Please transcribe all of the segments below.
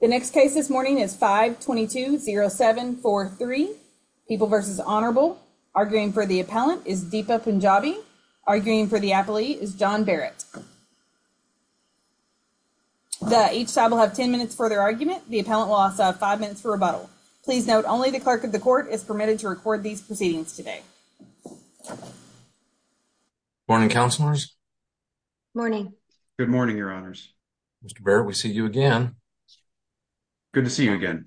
The next case this morning is 522-0743. People versus Honorable. Arguing for the appellant is Deepa Punjabi. Arguing for the appellee is John Barrett. The each side will have 10 minutes for their argument. The appellant will also have five minutes for rebuttal. Please note only the clerk of the court is permitted to record these proceedings today. Morning councilors. Morning. Good morning your honors. Mr. Barrett we see you again. Good to see you again.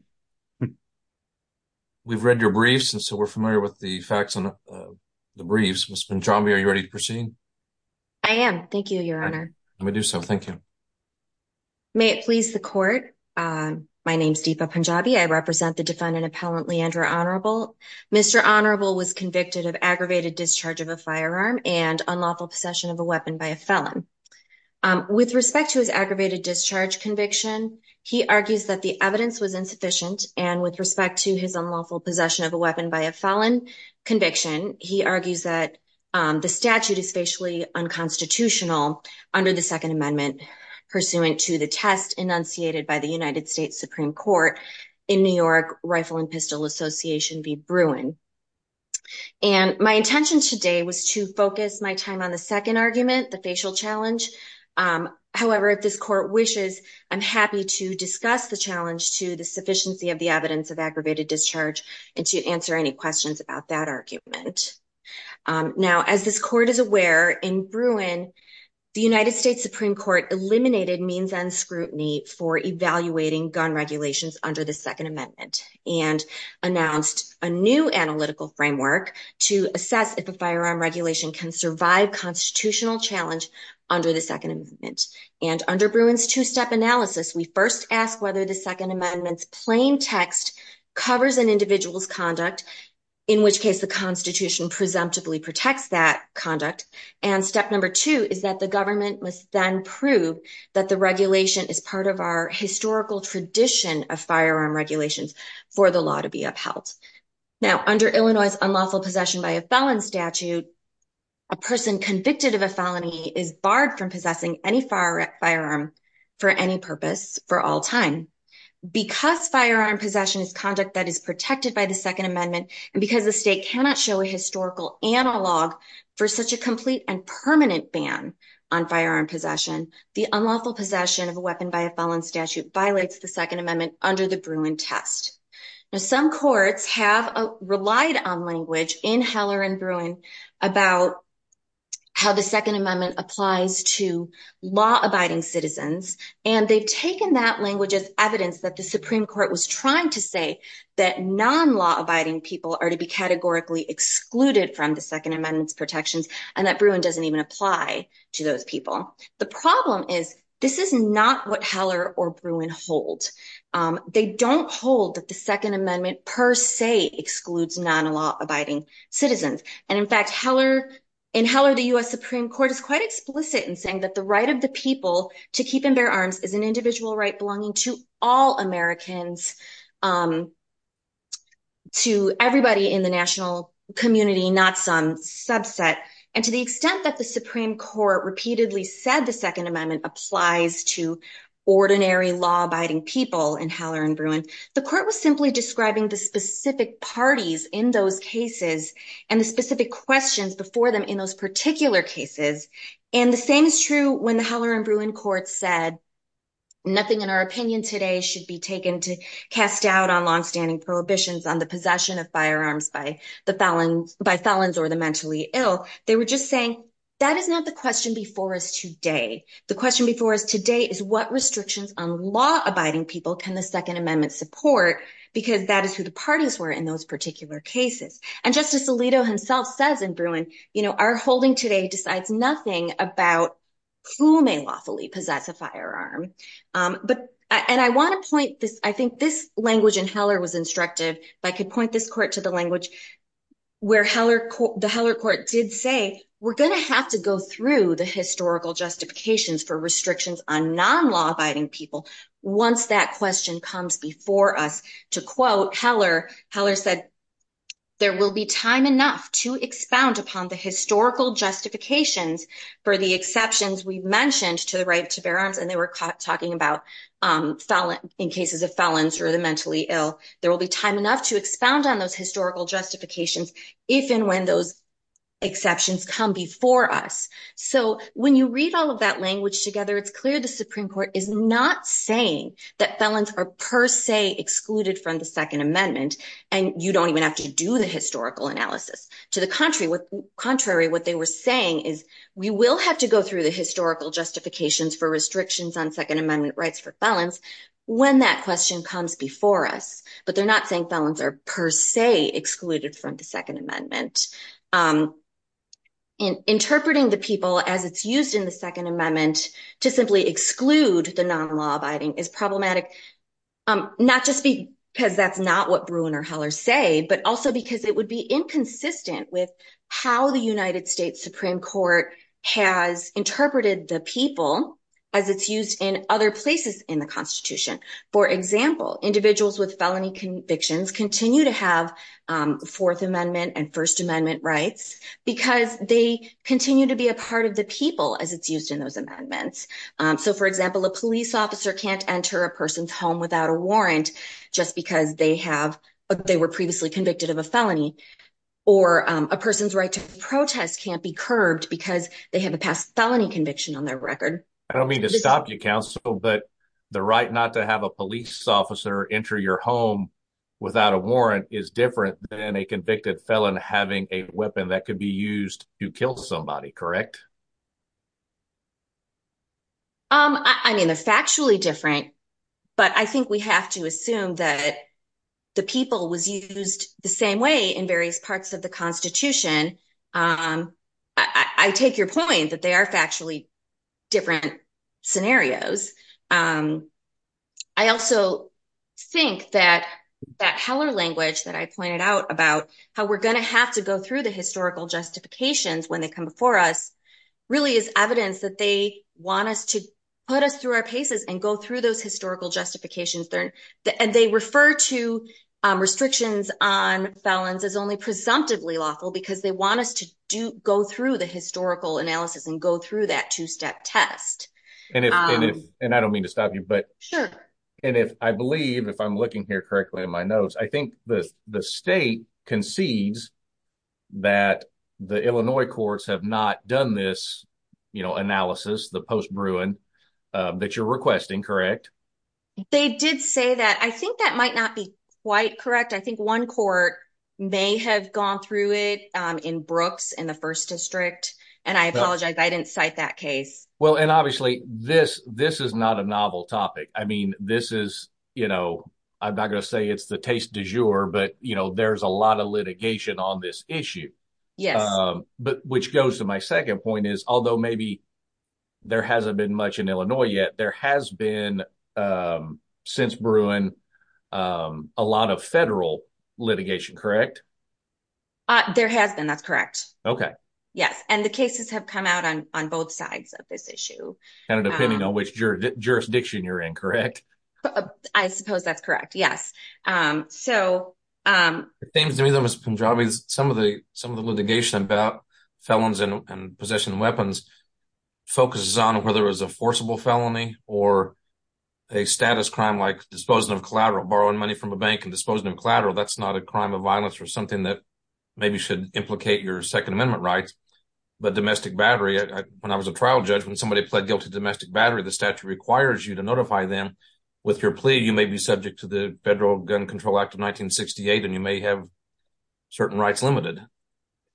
We've read your briefs and so we're familiar with the facts on the briefs. Ms. Punjabi are you ready to proceed? I am. Thank you your honor. Let me do so. Thank you. May it please the court. My name is Deepa Punjabi. I represent the defendant appellant Leandra Honorable. Mr. Honorable was convicted of aggravated discharge of a firearm and unlawful possession of a weapon by a felon. With respect to his aggravated discharge conviction he argues that the evidence was insufficient and with respect to his unlawful possession of a weapon by a felon conviction he argues that the statute is facially unconstitutional under the second amendment pursuant to the test enunciated by the United States Supreme Court in New York Rifle and argument the facial challenge. However if this court wishes I'm happy to discuss the challenge to the sufficiency of the evidence of aggravated discharge and to answer any questions about that argument. Now as this court is aware in Bruin the United States Supreme Court eliminated means and scrutiny for evaluating gun regulations under the second amendment and announced a new analytical framework to assess if a firearm regulation can survive constitutional challenge under the second amendment and under Bruin's two-step analysis we first ask whether the second amendment's plain text covers an individual's conduct in which case the constitution presumptively protects that conduct and step number two is that the government must then prove that the regulation is part of our unlawful possession by a felon statute a person convicted of a felony is barred from possessing any firearm for any purpose for all time because firearm possession is conduct that is protected by the second amendment and because the state cannot show a historical analog for such a complete and permanent ban on firearm possession the unlawful possession of a weapon by a felon statute violates the second amendment under the Bruin test. Now some courts have relied on language in Heller and Bruin about how the second amendment applies to law-abiding citizens and they've taken that language as evidence that the Supreme Court was trying to say that non-law-abiding people are to be categorically excluded from the second amendment's protections and that Bruin doesn't even apply to they don't hold that the second amendment per se excludes non-law-abiding citizens and in fact Heller in Heller the U.S. Supreme Court is quite explicit in saying that the right of the people to keep and bear arms is an individual right belonging to all Americans to everybody in the national community not some subset and to the extent that the Supreme Court repeatedly said the second amendment applies to ordinary law-abiding people in Heller and Bruin the court was simply describing the specific parties in those cases and the specific questions before them in those particular cases and the same is true when the Heller and Bruin court said nothing in our opinion today should be taken to cast doubt on long-standing prohibitions on the possession of firearms by the felon by felons or the mentally ill they were just saying that is not the question before us today the question before us today is what restrictions on law-abiding people can the second amendment support because that is who the parties were in those particular cases and Justice Alito himself says in Bruin you know our holding today decides nothing about who may lawfully possess a firearm but and I want to point this I think this language in Heller was instructive but I could point this court to the language where Heller the Heller court did say we're going to have to go the historical justifications for restrictions on non-law-abiding people once that question comes before us to quote Heller Heller said there will be time enough to expound upon the historical justifications for the exceptions we mentioned to the right to bear arms and they were talking about um felon in cases of felons or the mentally ill there will be time enough to expound on those so when you read all of that language together it's clear the supreme court is not saying that felons are per se excluded from the second amendment and you don't even have to do the historical analysis to the contrary with contrary what they were saying is we will have to go through the historical justifications for restrictions on second amendment rights for felons when that question comes before us but they're not saying felons are per se excluded from the second amendment um in interpreting the people as it's used in the second amendment to simply exclude the non-law-abiding is problematic um not just because that's not what Bruen or Heller say but also because it would be inconsistent with how the united states supreme court has interpreted the people as it's used in other places in the constitution for example individuals with felony convictions continue to have um fourth amendment and first amendment rights because they continue to be a part of the people as it's used in those amendments um so for example a police officer can't enter a person's home without a warrant just because they have they were previously convicted of a felony or a person's right to protest can't be curbed because they have a past felony conviction on their record i don't mean to stop you counsel but the right not to have a without a warrant is different than a convicted felon having a weapon that could be used to kill somebody correct um i mean they're factually different but i think we have to assume that the people was used the same way in various parts of the constitution um i i take your point that they are factually different scenarios um i also think that that heller language that i pointed out about how we're going to have to go through the historical justifications when they come before us really is evidence that they want us to put us through our paces and go through those historical justifications there and they refer to um do go through the historical analysis and go through that two-step test and if and i don't mean to stop you but sure and if i believe if i'm looking here correctly in my notes i think the the state concedes that the illinois courts have not done this you know analysis the post bruin that you're requesting correct they did say that i think that might not be quite correct i think one court may have gone through it um in brooks in the first district and i apologize i didn't cite that case well and obviously this this is not a novel topic i mean this is you know i'm not going to say it's the taste du jour but you know there's a lot of litigation on this issue yes um but which goes to my second point is although maybe there hasn't been much in illinois yet there has been um since bruin um a lot of federal litigation correct uh there has been that's correct okay yes and the cases have come out on on both sides of this issue kind of depending on which jurisdiction you're in correct i suppose that's correct yes um so um things to me that mr pendraves some of the some of the litigation about felons and possession weapons focuses on whether it was a forcible felony or a status crime like disposing of collateral borrowing money from a bank and disposing of collateral that's not a crime of violence or something that maybe should implicate your second amendment rights but domestic battery when i was a trial judge when somebody pled guilty to domestic battery the statute requires you to notify them with your plea you may be subject to the federal gun control act of 1968 and you may have certain rights limited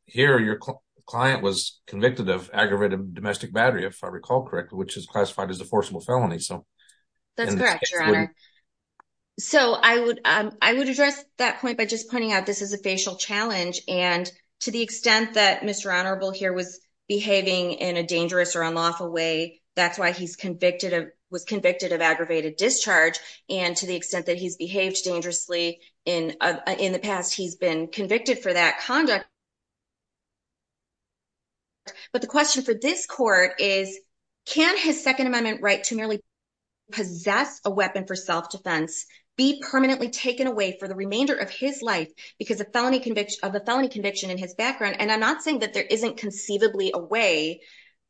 here your client was convicted of aggravated domestic battery if i call correctly which is classified as a forcible felony so that's correct so i would um i would address that point by just pointing out this is a facial challenge and to the extent that mr honorable here was behaving in a dangerous or unlawful way that's why he's convicted of was convicted of aggravated discharge and to the extent that he's behaved dangerously in in the past he's been convicted for that conduct but the question for this court is can his second amendment right to merely possess a weapon for self-defense be permanently taken away for the remainder of his life because a felony conviction of a felony conviction in his background and i'm not saying that there isn't conceivably a way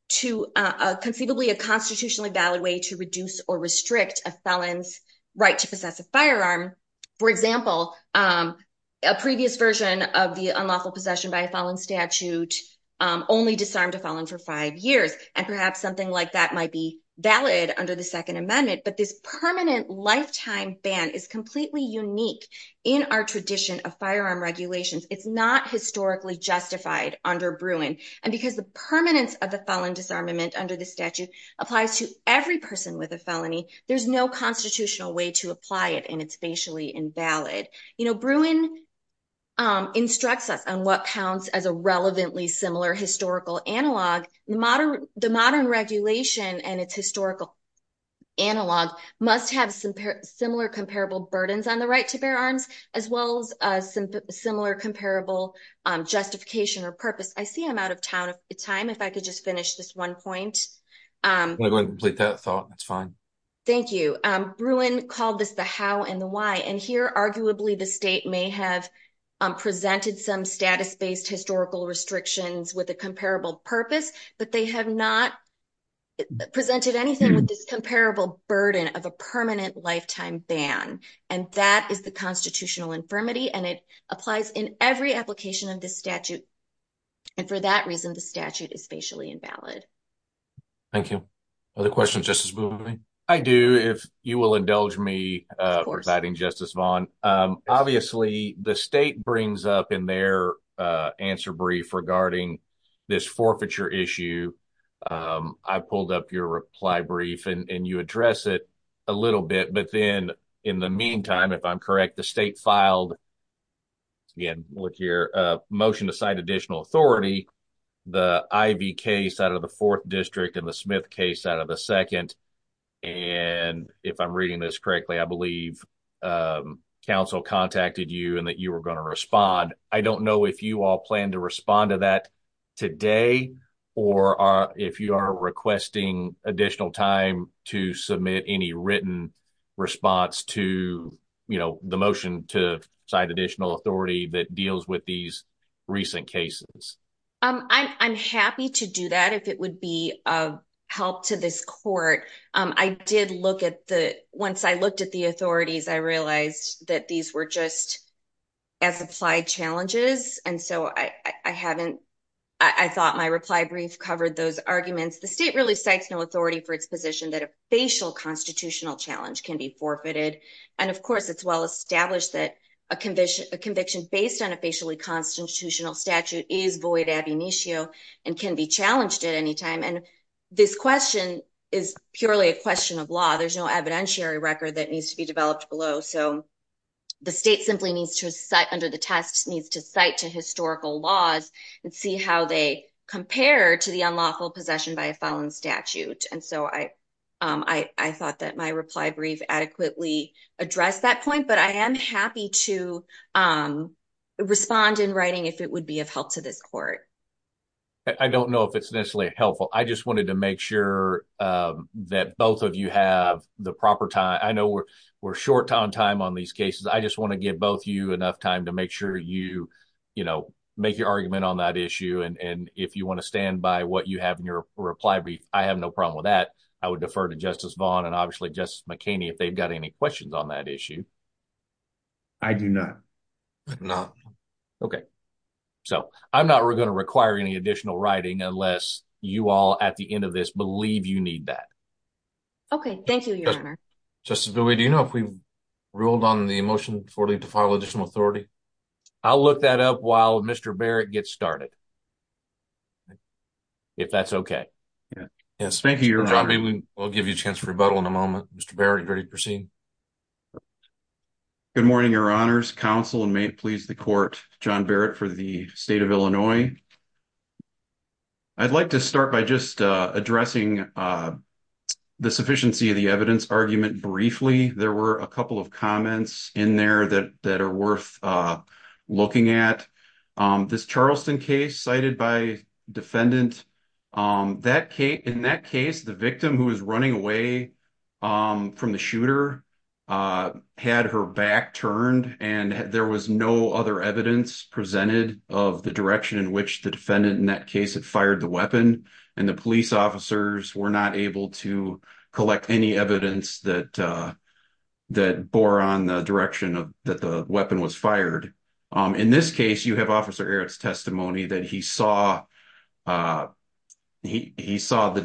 to uh conceivably a constitutionally valid way to reduce or restrict a felon's right to possess a firearm for example um a previous version of the unlawful possession by a fallen statute um only disarmed a fallen for five years and perhaps something like that might be valid under the second amendment but this permanent lifetime ban is completely unique in our tradition of firearm regulations it's not historically justified under bruin and because the permanence of the felon disarmament under the statute applies to every person with a felony there's no constitutional way to apply it and it's basically invalid you know bruin um instructs us on what counts as a relevantly similar historical analog the modern the modern regulation and its historical analog must have some similar comparable burdens on the right to bear arms as well as a similar comparable um justification or purpose i see i'm out of town of time if i could just finish this one point um i'm going to complete that thought that's fine thank you um may have um presented some status-based historical restrictions with a comparable purpose but they have not presented anything with this comparable burden of a permanent lifetime ban and that is the constitutional infirmity and it applies in every application of this statute and for that reason the statute is facially invalid thank you other questions justice i do if you will indulge me uh providing justice vaughn um obviously the state brings up in their uh answer brief regarding this forfeiture issue um i pulled up your reply brief and you address it a little bit but then in the meantime if i'm correct the state filed again look here uh motion to cite additional authority the ivy case out of the fourth district and the smith case out of the second and if i'm reading this correctly i believe um council contacted you and that you were going to respond i don't know if you all plan to respond to that today or are if you are requesting additional time to submit any written response to you know the motion to cite additional authority that deals with these recent cases um i'm happy to do that if it would be of help to this court um i did look at the once i looked at the authorities i realized that these were just as applied challenges and so i i haven't i thought my reply brief covered those arguments the state really cites no authority for its position that a facial constitutional challenge can be forfeited and of course it's well established that a challenged at any time and this question is purely a question of law there's no evidentiary record that needs to be developed below so the state simply needs to cite under the test needs to cite to historical laws and see how they compare to the unlawful possession by a felon statute and so i um i i thought that my reply brief adequately addressed that point but i am i just wanted to make sure that both of you have the proper time i know we're we're short on time on these cases i just want to give both you enough time to make sure you you know make your argument on that issue and and if you want to stand by what you have in your reply brief i have no problem with that i would defer to justice vaughn and obviously justice mckinney if they've got any questions on that issue i do not not okay so i'm not going to require any additional writing unless you all at the end of this believe you need that okay thank you your honor just do we do you know if we ruled on the motion for leave to file additional authority i'll look that up while mr barrett gets started if that's okay yeah yes thank you i mean we'll give you a chance for rebuttal in a moment mr barrett ready to proceed good morning your honors council and may it please the court john barrett for the state of illinois i'd like to start by just uh addressing uh the sufficiency of the evidence argument briefly there were a couple of comments in there that that are worth uh looking at um this charleston case cited by defendant um that case in that case the victim who was running away um from the shooter uh had her back turned and there was no other evidence presented of the direction in which the defendant in that case had fired the weapon and the police officers were not able to collect any evidence that uh that bore on the direction of that the weapon was fired um in this case you have officer eric's testimony that he saw uh he he saw the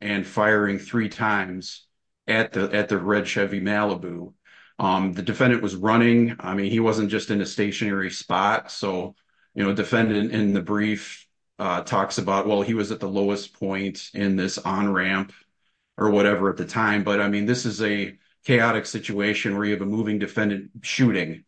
and firing three times at the at the red chevy malibu um the defendant was running i mean he wasn't just in a stationary spot so you know defendant in the brief uh talks about well he was at the lowest point in this on ramp or whatever at the time but i mean this is a chaotic situation where you have a moving defendant shooting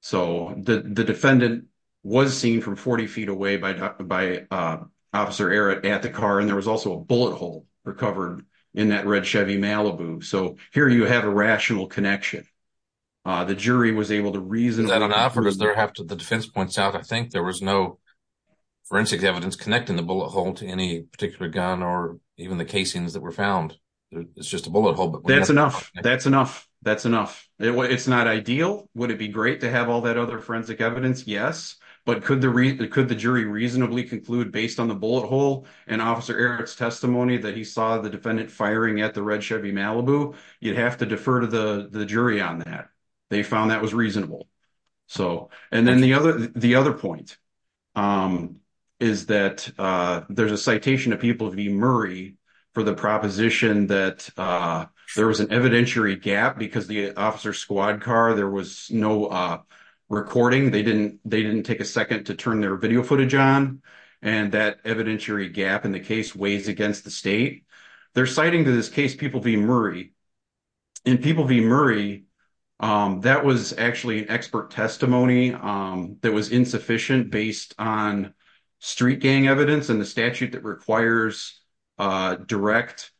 so the the defendant was seen from 40 feet away by by uh at the car and there was also a bullet hole recovered in that red chevy malibu so here you have a rational connection uh the jury was able to reason i don't know because there have to the defense points out i think there was no forensic evidence connecting the bullet hole to any particular gun or even the casings that were found it's just a bullet hole but that's enough that's enough that's enough it's not ideal would it be great to have all that other forensic evidence yes but could the could the jury reasonably conclude based on the bullet hole and officer eric's testimony that he saw the defendant firing at the red chevy malibu you'd have to defer to the the jury on that they found that was reasonable so and then the other the other point um is that uh there's a citation of people v murray for the proposition that uh there was an evidentiary gap because the officer squad car there was no uh recording they didn't they didn't take a second to turn their video footage on and that evidentiary gap in the case weighs against the state they're citing to this case people v murray and people v murray um that was actually an expert testimony um that was insufficient based on street gang evidence and statute that requires uh direct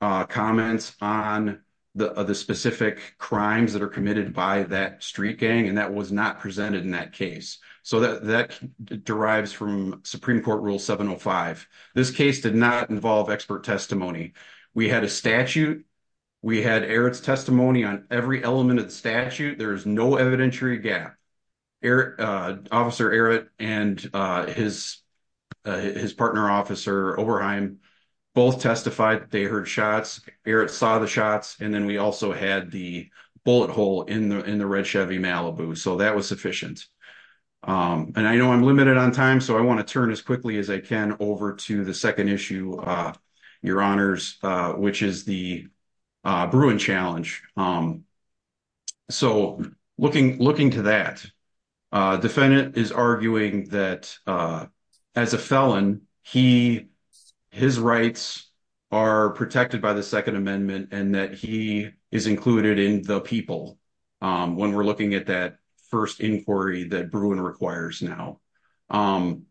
uh comments on the the specific crimes that are committed by that street gang and that was not presented in that case so that that derives from supreme court rule 705 this case did not involve expert testimony we had a statute we had eric's testimony on every officer oberheim both testified they heard shots eric saw the shots and then we also had the bullet hole in the in the red chevy malibu so that was sufficient um and i know i'm limited on time so i want to turn as quickly as i can over to the second issue uh your honors uh which is the uh bruin challenge um so looking looking to that uh defendant is arguing that uh as a felon he his rights are protected by the second amendment and that he is included in the people um when we're looking at that first inquiry that bruin requires now um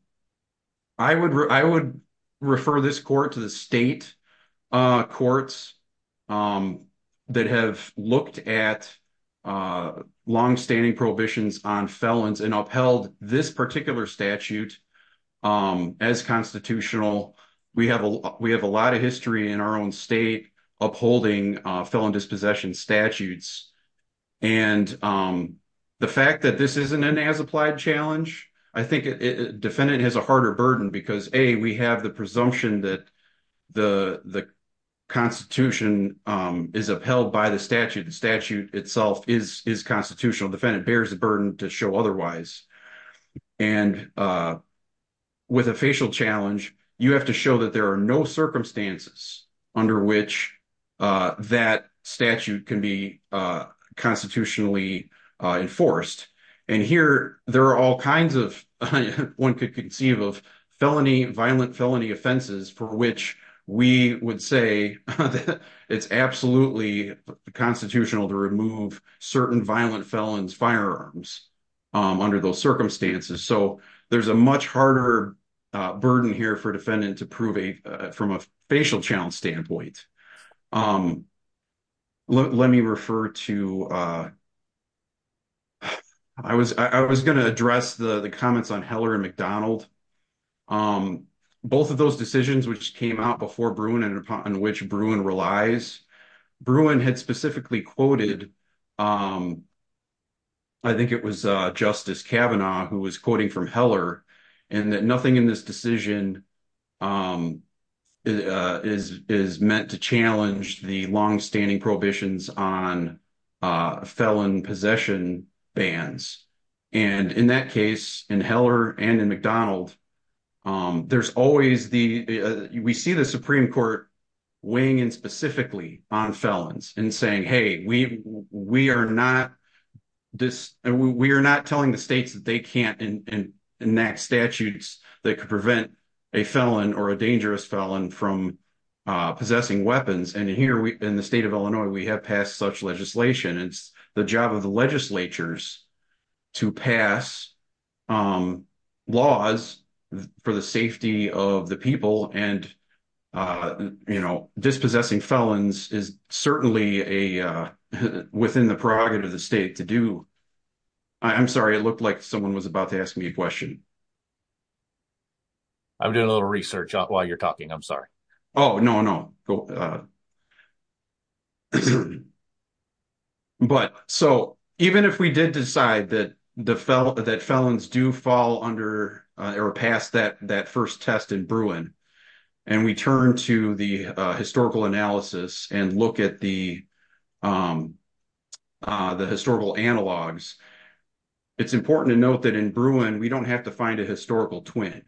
i would i would refer this court to the state uh courts um that have looked at uh long-standing prohibitions on felons and upheld this particular statute um as constitutional we have a we have a lot of history in our own state upholding uh felon dispossession statutes and um the fact that this isn't an as applied challenge i think defendant has a harder burden because a we have the presumption that the the constitution um is upheld by the statute the statute itself is is constitutional defendant bears the burden to show otherwise and uh with a facial challenge you have to show that there are no circumstances under which uh that statute can be uh constitutionally uh enforced and here there are all kinds of one could conceive of felony violent felony offenses for which we would say it's absolutely constitutional to remove certain violent felons firearms um under those circumstances so there's a much harder uh burden here for defendant to prove a from a facial challenge standpoint um let me refer to uh i was i was going to address the the comments on heller and mcdonald um both of those decisions which came out before bruin and upon which bruin relies bruin had specifically quoted um i think it was uh justice kavanaugh who was quoting from heller and that nothing in this decision um is is meant to challenge the long-standing prohibitions on uh felon possession bans and in that case in heller and in mcdonald um there's always the we see the supreme court weighing in specifically on felons and saying hey we we are not this we are not telling the states that they can't enact statutes that could prevent a felon or a dangerous felon from uh possessing weapons and here we in the state of illinois we have passed such legislation it's the job of the legislatures to pass um laws for the safety of the people and uh you know dispossessing felons is certainly a uh within the prerogative of the state to do i'm sorry it looked like someone was about to ask me a question i'm doing a little research while you're talking i'm sorry oh no no but so even if we did decide that the fell that felons do fall under or pass that that historical analysis and look at the um uh the historical analogs it's important to note that in brewin we don't have to find a historical twin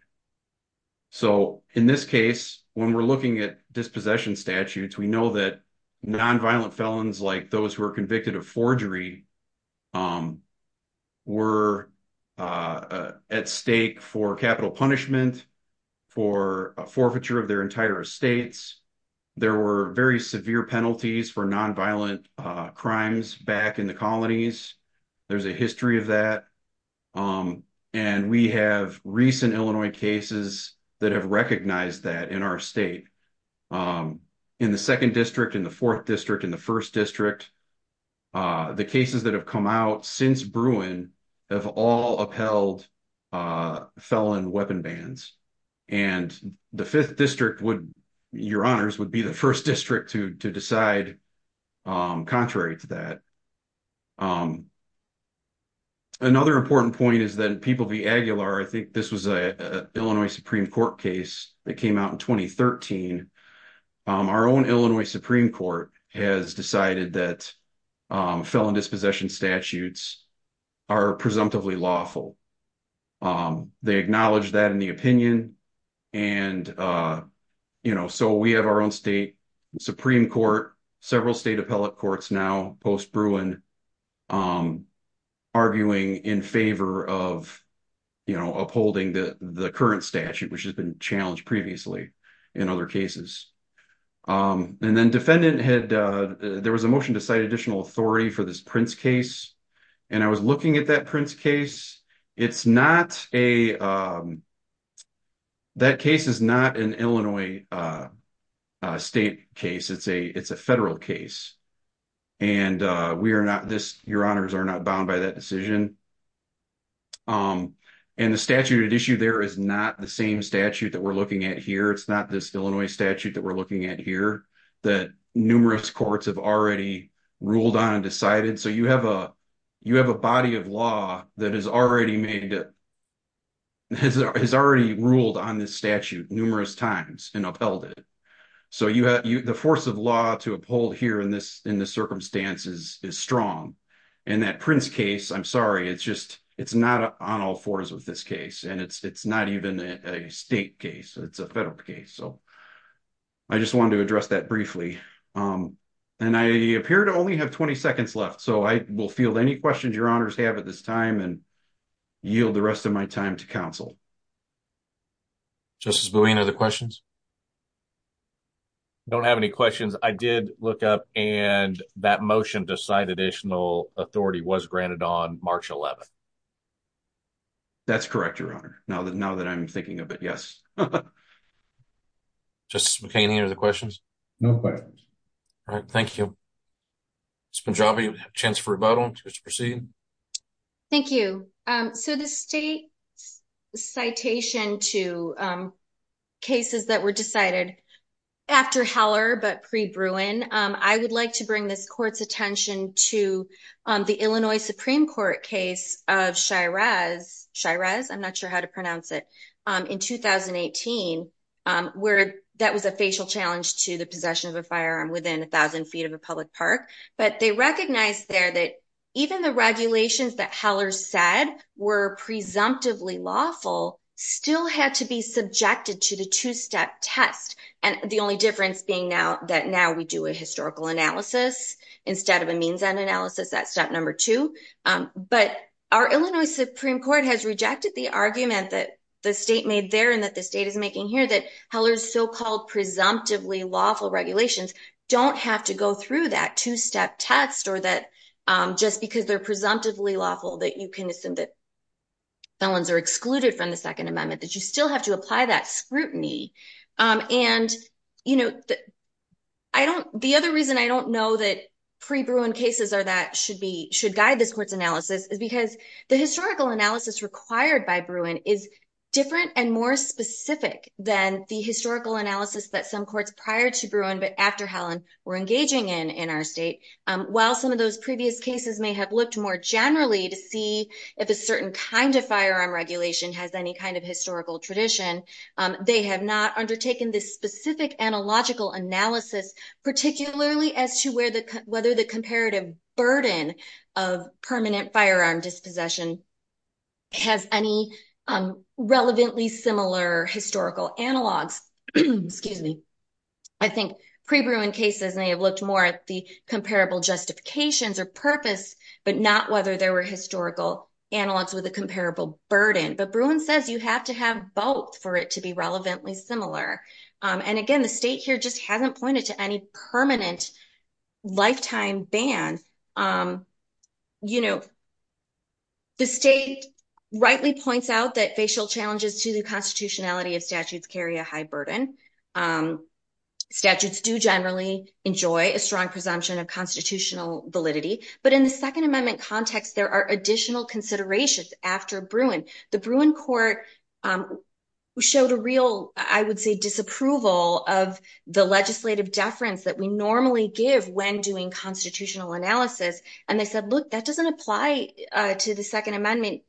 so in this case when we're looking at dispossession statutes we know that non-violent felons like those who are convicted of forgery were at stake for capital punishment for a forfeiture of their entire estates there were very severe penalties for non-violent uh crimes back in the colonies there's a history of that um and we have recent illinois cases that have recognized that in our state in the second district in the fourth district in the first district uh the cases that have come out since brewing have all upheld uh felon weapon bans and the fifth district would your honors would be the first district to to decide um contrary to that um another important point is that people be aguilar i think this was a illinois supreme court case that came out in 2013 our own illinois supreme court has decided that felon dispossession statutes are presumptively lawful um they acknowledge that in the opinion and uh you know so we have our own state supreme court several state appellate courts now post brewing um arguing in favor of you know upholding the the current statute which has been challenged previously in other cases um and then defendant had uh there was a motion to cite additional authority for this prince case and i was looking at that prince case it's not a um that case is not an illinois uh uh state case it's a it's a federal case and uh we are not this your honors are not bound by that decision um and the statute at issue there is not the same statute that we're looking at here it's not this illinois statute that we're looking at here that numerous courts have already ruled on decided so you have a you have a body of law that has already made it has already ruled on this statute numerous times and upheld it so you have you the force of law to uphold here in this in the circumstances is strong and that prince case i'm sorry it's just it's not on all fours with this case and it's it's not even a state case it's a federal case so i just wanted to left so i will field any questions your honors have at this time and yield the rest of my time to counsel justice buoyant other questions don't have any questions i did look up and that motion to sign additional authority was granted on march 11th that's correct your honor now that now that i'm thinking of it yes justice mccain any other questions no questions all right thank you it's been jobby chance for rebuttal just proceed thank you um so the state citation to um cases that were decided after heller but pre-bruin um i would like to bring this court's attention to um the illinois supreme court case of shiraz shiraz i'm not sure how to pronounce it in 2018 um where that was a facial challenge to the possession of a firearm within a thousand feet of a public park but they recognized there that even the regulations that heller said were presumptively lawful still had to be subjected to the two-step test and the only difference being now that now we do a historical analysis instead of a means and analysis that's number two um but our illinois supreme court has rejected the argument that the state made there and that the state is making here that heller's so-called presumptively lawful regulations don't have to go through that two-step test or that um just because they're presumptively lawful that you can assume that felons are excluded from the second amendment that you still have to apply that scrutiny um and you know i don't the other reason i don't know that pre-bruin cases are that should be should guide this court's analysis is because the historical analysis required by bruin is different and more specific than the historical analysis that some courts prior to bruin but after hellen were engaging in in our state um while some of those previous cases may have looked more generally to see if a certain kind of firearm regulation has any kind of historical tradition um they have not undertaken this specific analogical analysis particularly as to whether the comparative burden of permanent firearm dispossession has any um relevantly similar historical analogs excuse me i think pre-bruin cases may have looked more at the comparable justifications or purpose but not whether there were historical analogs with a comparable burden but bruin says you have to have both for it to be relevantly similar and again the state here just hasn't pointed to any permanent lifetime ban um you know the state rightly points out that facial challenges to the constitutionality of statutes carry a high burden um statutes do generally enjoy a strong presumption of constitutional validity but in the second amendment context there are additional considerations after bruin the bruin court um showed a real i would say disapproval of the legislative deference that we normally give when doing constitutional analysis and they said look that doesn't apply to the second amendment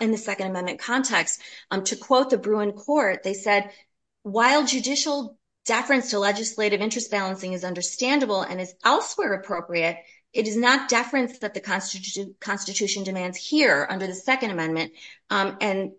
in the second amendment context um to quote the bruin court they said while judicial deference to legislative interest balancing is understandable and is elsewhere appropriate it is not deference that the constitution constitution demands here under the second amendment um and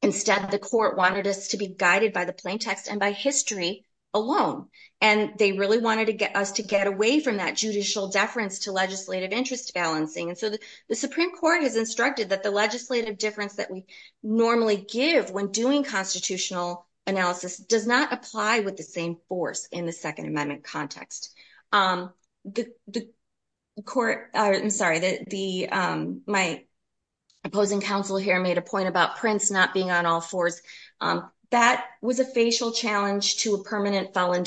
instead the court wanted us to be guided by the plaintext and by history alone and they really wanted to get us to get away from that judicial deference to legislative interest balancing and so the supreme court has instructed that the legislative difference that we normally give when doing constitutional analysis does not apply with same force in the second amendment context um the the court i'm sorry that the um my opposing counsel here made a point about prince not being on all fours um that was a facial challenge to a permanent felon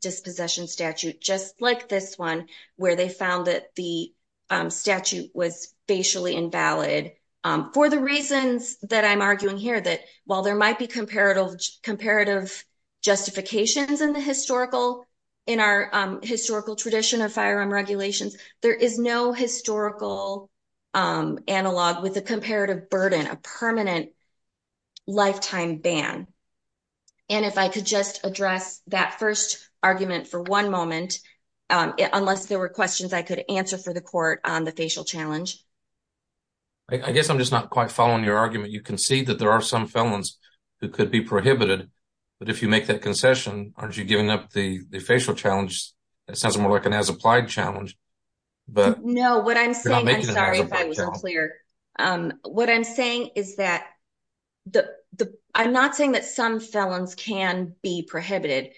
dispossession statute just like this one where they found that the um statute was facially invalid um for the reasons that i'm arguing here that while there in the historical in our historical tradition of firearm regulations there is no historical um analog with a comparative burden a permanent lifetime ban and if i could just address that first argument for one moment unless there were questions i could answer for the court on the facial challenge i guess i'm just not quite following your argument you concede that there are some felons who could be prohibited but if you make that concession aren't you giving up the the facial challenge that sounds more like an as applied challenge but no what i'm saying i'm sorry if i wasn't clear um what i'm saying is that the the i'm not saying that some felons can be prohibited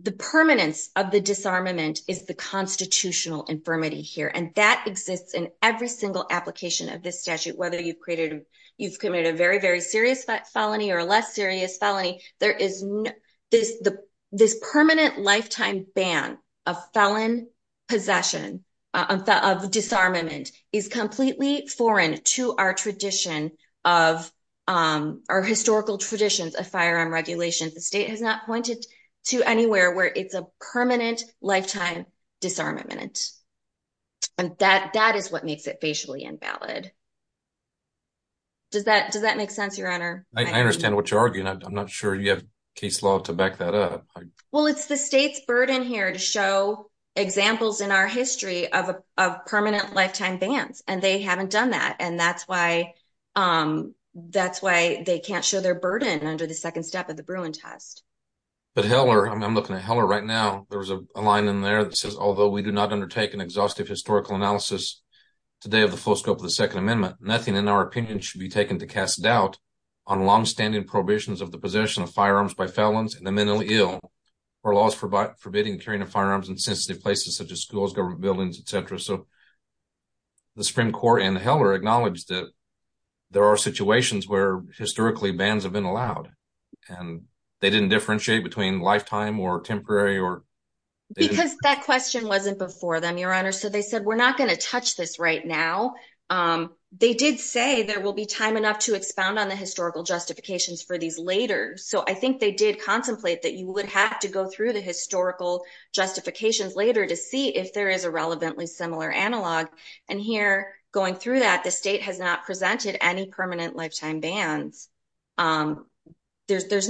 the permanence of the disarmament is the constitutional infirmity here and that exists in every single application of this statute whether you've created you've committed a very very serious felony or a less serious felony there is this the this permanent lifetime ban of felon possession of disarmament is completely foreign to our tradition of um our historical traditions of firearm regulations the state has not pointed to anywhere where it's a permanent lifetime disarmament and that that is what makes it facially invalid does that does that make sense your honor i understand what you're arguing i'm not sure you have case law to back that up well it's the state's burden here to show examples in our history of a of permanent lifetime bans and they haven't done that and that's why um that's why they can't show their burden under the second step of the Bruin test but heller i'm looking at heller right now there was a line in there that says although we do not undertake an exhaustive historical analysis today of the full scope of the second amendment nothing in our opinion should be taken to cast doubt on long-standing prohibitions of the possession of firearms by felons and the mentally ill or laws for by forbidding carrying of firearms in sensitive places such as schools government buildings etc so the supreme court and heller acknowledged that there are situations where historically bans have been allowed and they didn't differentiate between lifetime or temporary or because that question wasn't before them your honor so they said we're not going to touch this right now um they did say there will be time enough to expound on the historical justifications for these later so i think they did contemplate that you would have to go through the historical justifications later to see if there is a relevantly similar analog and here going through that the state has not presented any permanent lifetime bans um there's there's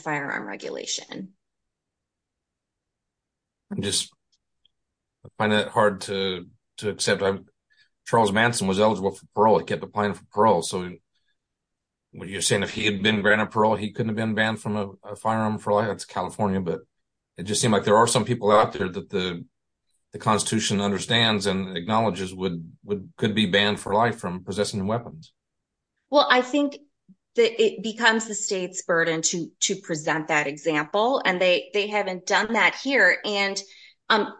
firearm regulation just find that hard to to accept i'm charles manson was eligible for parole he kept applying for parole so what you're saying if he had been granted parole he couldn't have been banned from a firearm for life that's california but it just seemed like there are some people out there that the the constitution understands and acknowledges would would could be banned for life from to present that example and they they haven't done that here and um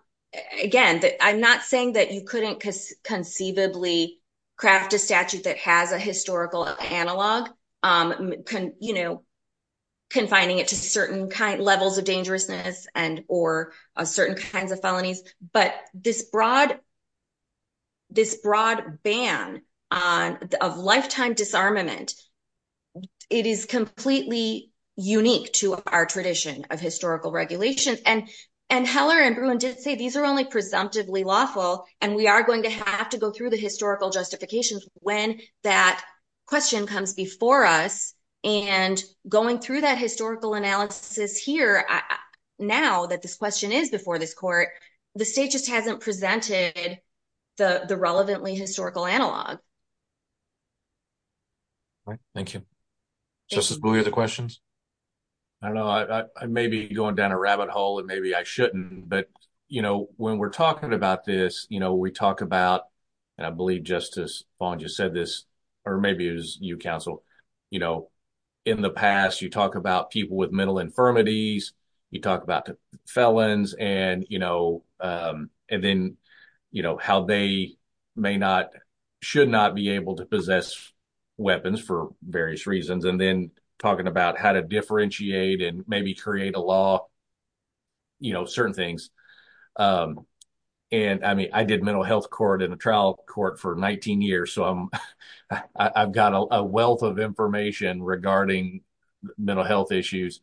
again i'm not saying that you couldn't conceivably craft a statute that has a historical analog um can you know confining it to certain kind levels of dangerousness and or certain kinds of felonies but this broad this broad ban on of lifetime disarmament it is completely unique to our tradition of historical regulations and and heller and bruin did say these are only presumptively lawful and we are going to have to go through the historical justifications when that question comes before us and going through that historical analysis here now that this question is before this court the state just hasn't presented the the relevantly historical analog all right thank you justice buoy the questions i don't know i i may be going down a rabbit hole and maybe i shouldn't but you know when we're talking about this you know we talk about and i believe justice bond just said this or maybe it was you counsel you know in the past you talk about people with mental infirmities you talk about felons and you know um and then you know how they may not should not be able to possess weapons for various reasons and then talking about how to differentiate and maybe create a law you know certain things um and i mean i did mental health court in a trial court for 19 years so i'm i've got a wealth of information regarding mental health issues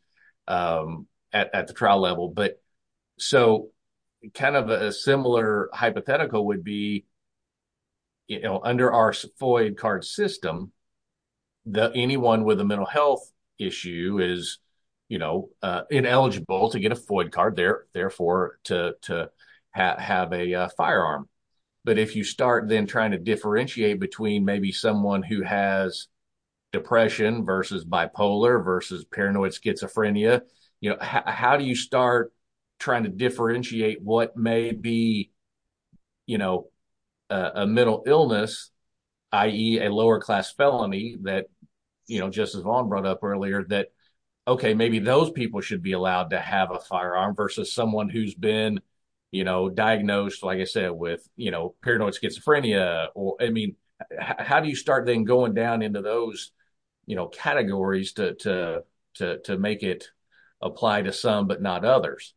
um at the trial level but so kind of a similar hypothetical would be you know under our foy card system the anyone with a mental health issue is you know uh ineligible to get a foy card there therefore to to have a firearm but if you start then trying to differentiate between maybe someone who has depression versus bipolar versus paranoid schizophrenia you know how do you start trying to differentiate what may be you know a mental illness i.e. a lower class felony that you know justice bond brought up earlier that okay maybe those people should be allowed to have a firearm versus someone who's been you know diagnosed like i said with you know paranoid schizophrenia or i mean how do you start then going down into those you know categories to to to make it apply to some but not others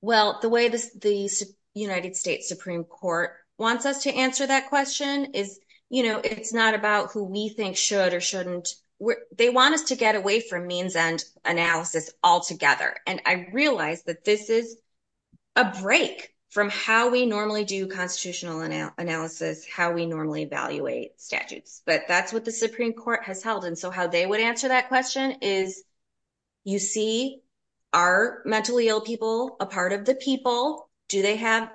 well the way this the united states supreme court wants us to answer that question is you know it's not about who we think should or shouldn't they want us to get away from means and analysis altogether and i realize that this is a break from how we normally do constitutional analysis how we normally evaluate statutes but that's what the supreme court has held and so how they would answer that question is you see are mentally ill people a part of the people do they have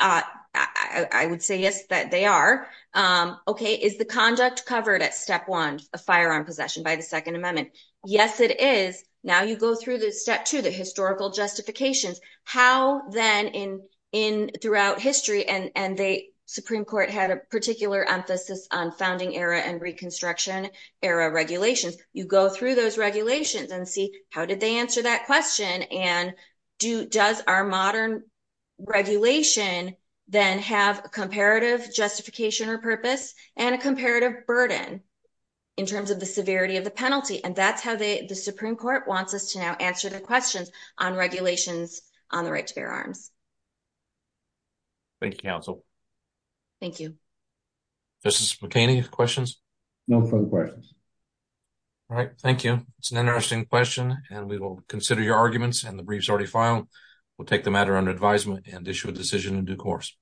uh i would say yes that they are um okay is the conduct covered at step one a firearm possession by the second amendment yes it is now you go through the step two the historical justifications how then in in throughout history and and they supreme court had a particular emphasis on founding era and reconstruction era regulations you go through those regulations and see how did they answer that question and do does our modern regulation then have a comparative justification or purpose and a that's how they the supreme court wants us to now answer the questions on regulations on the right to bear arms thank you counsel thank you justice mckinney questions no further questions all right thank you it's an interesting question and we will consider your arguments and the briefs already filed we'll take the matter under advisement and issue a decision in due course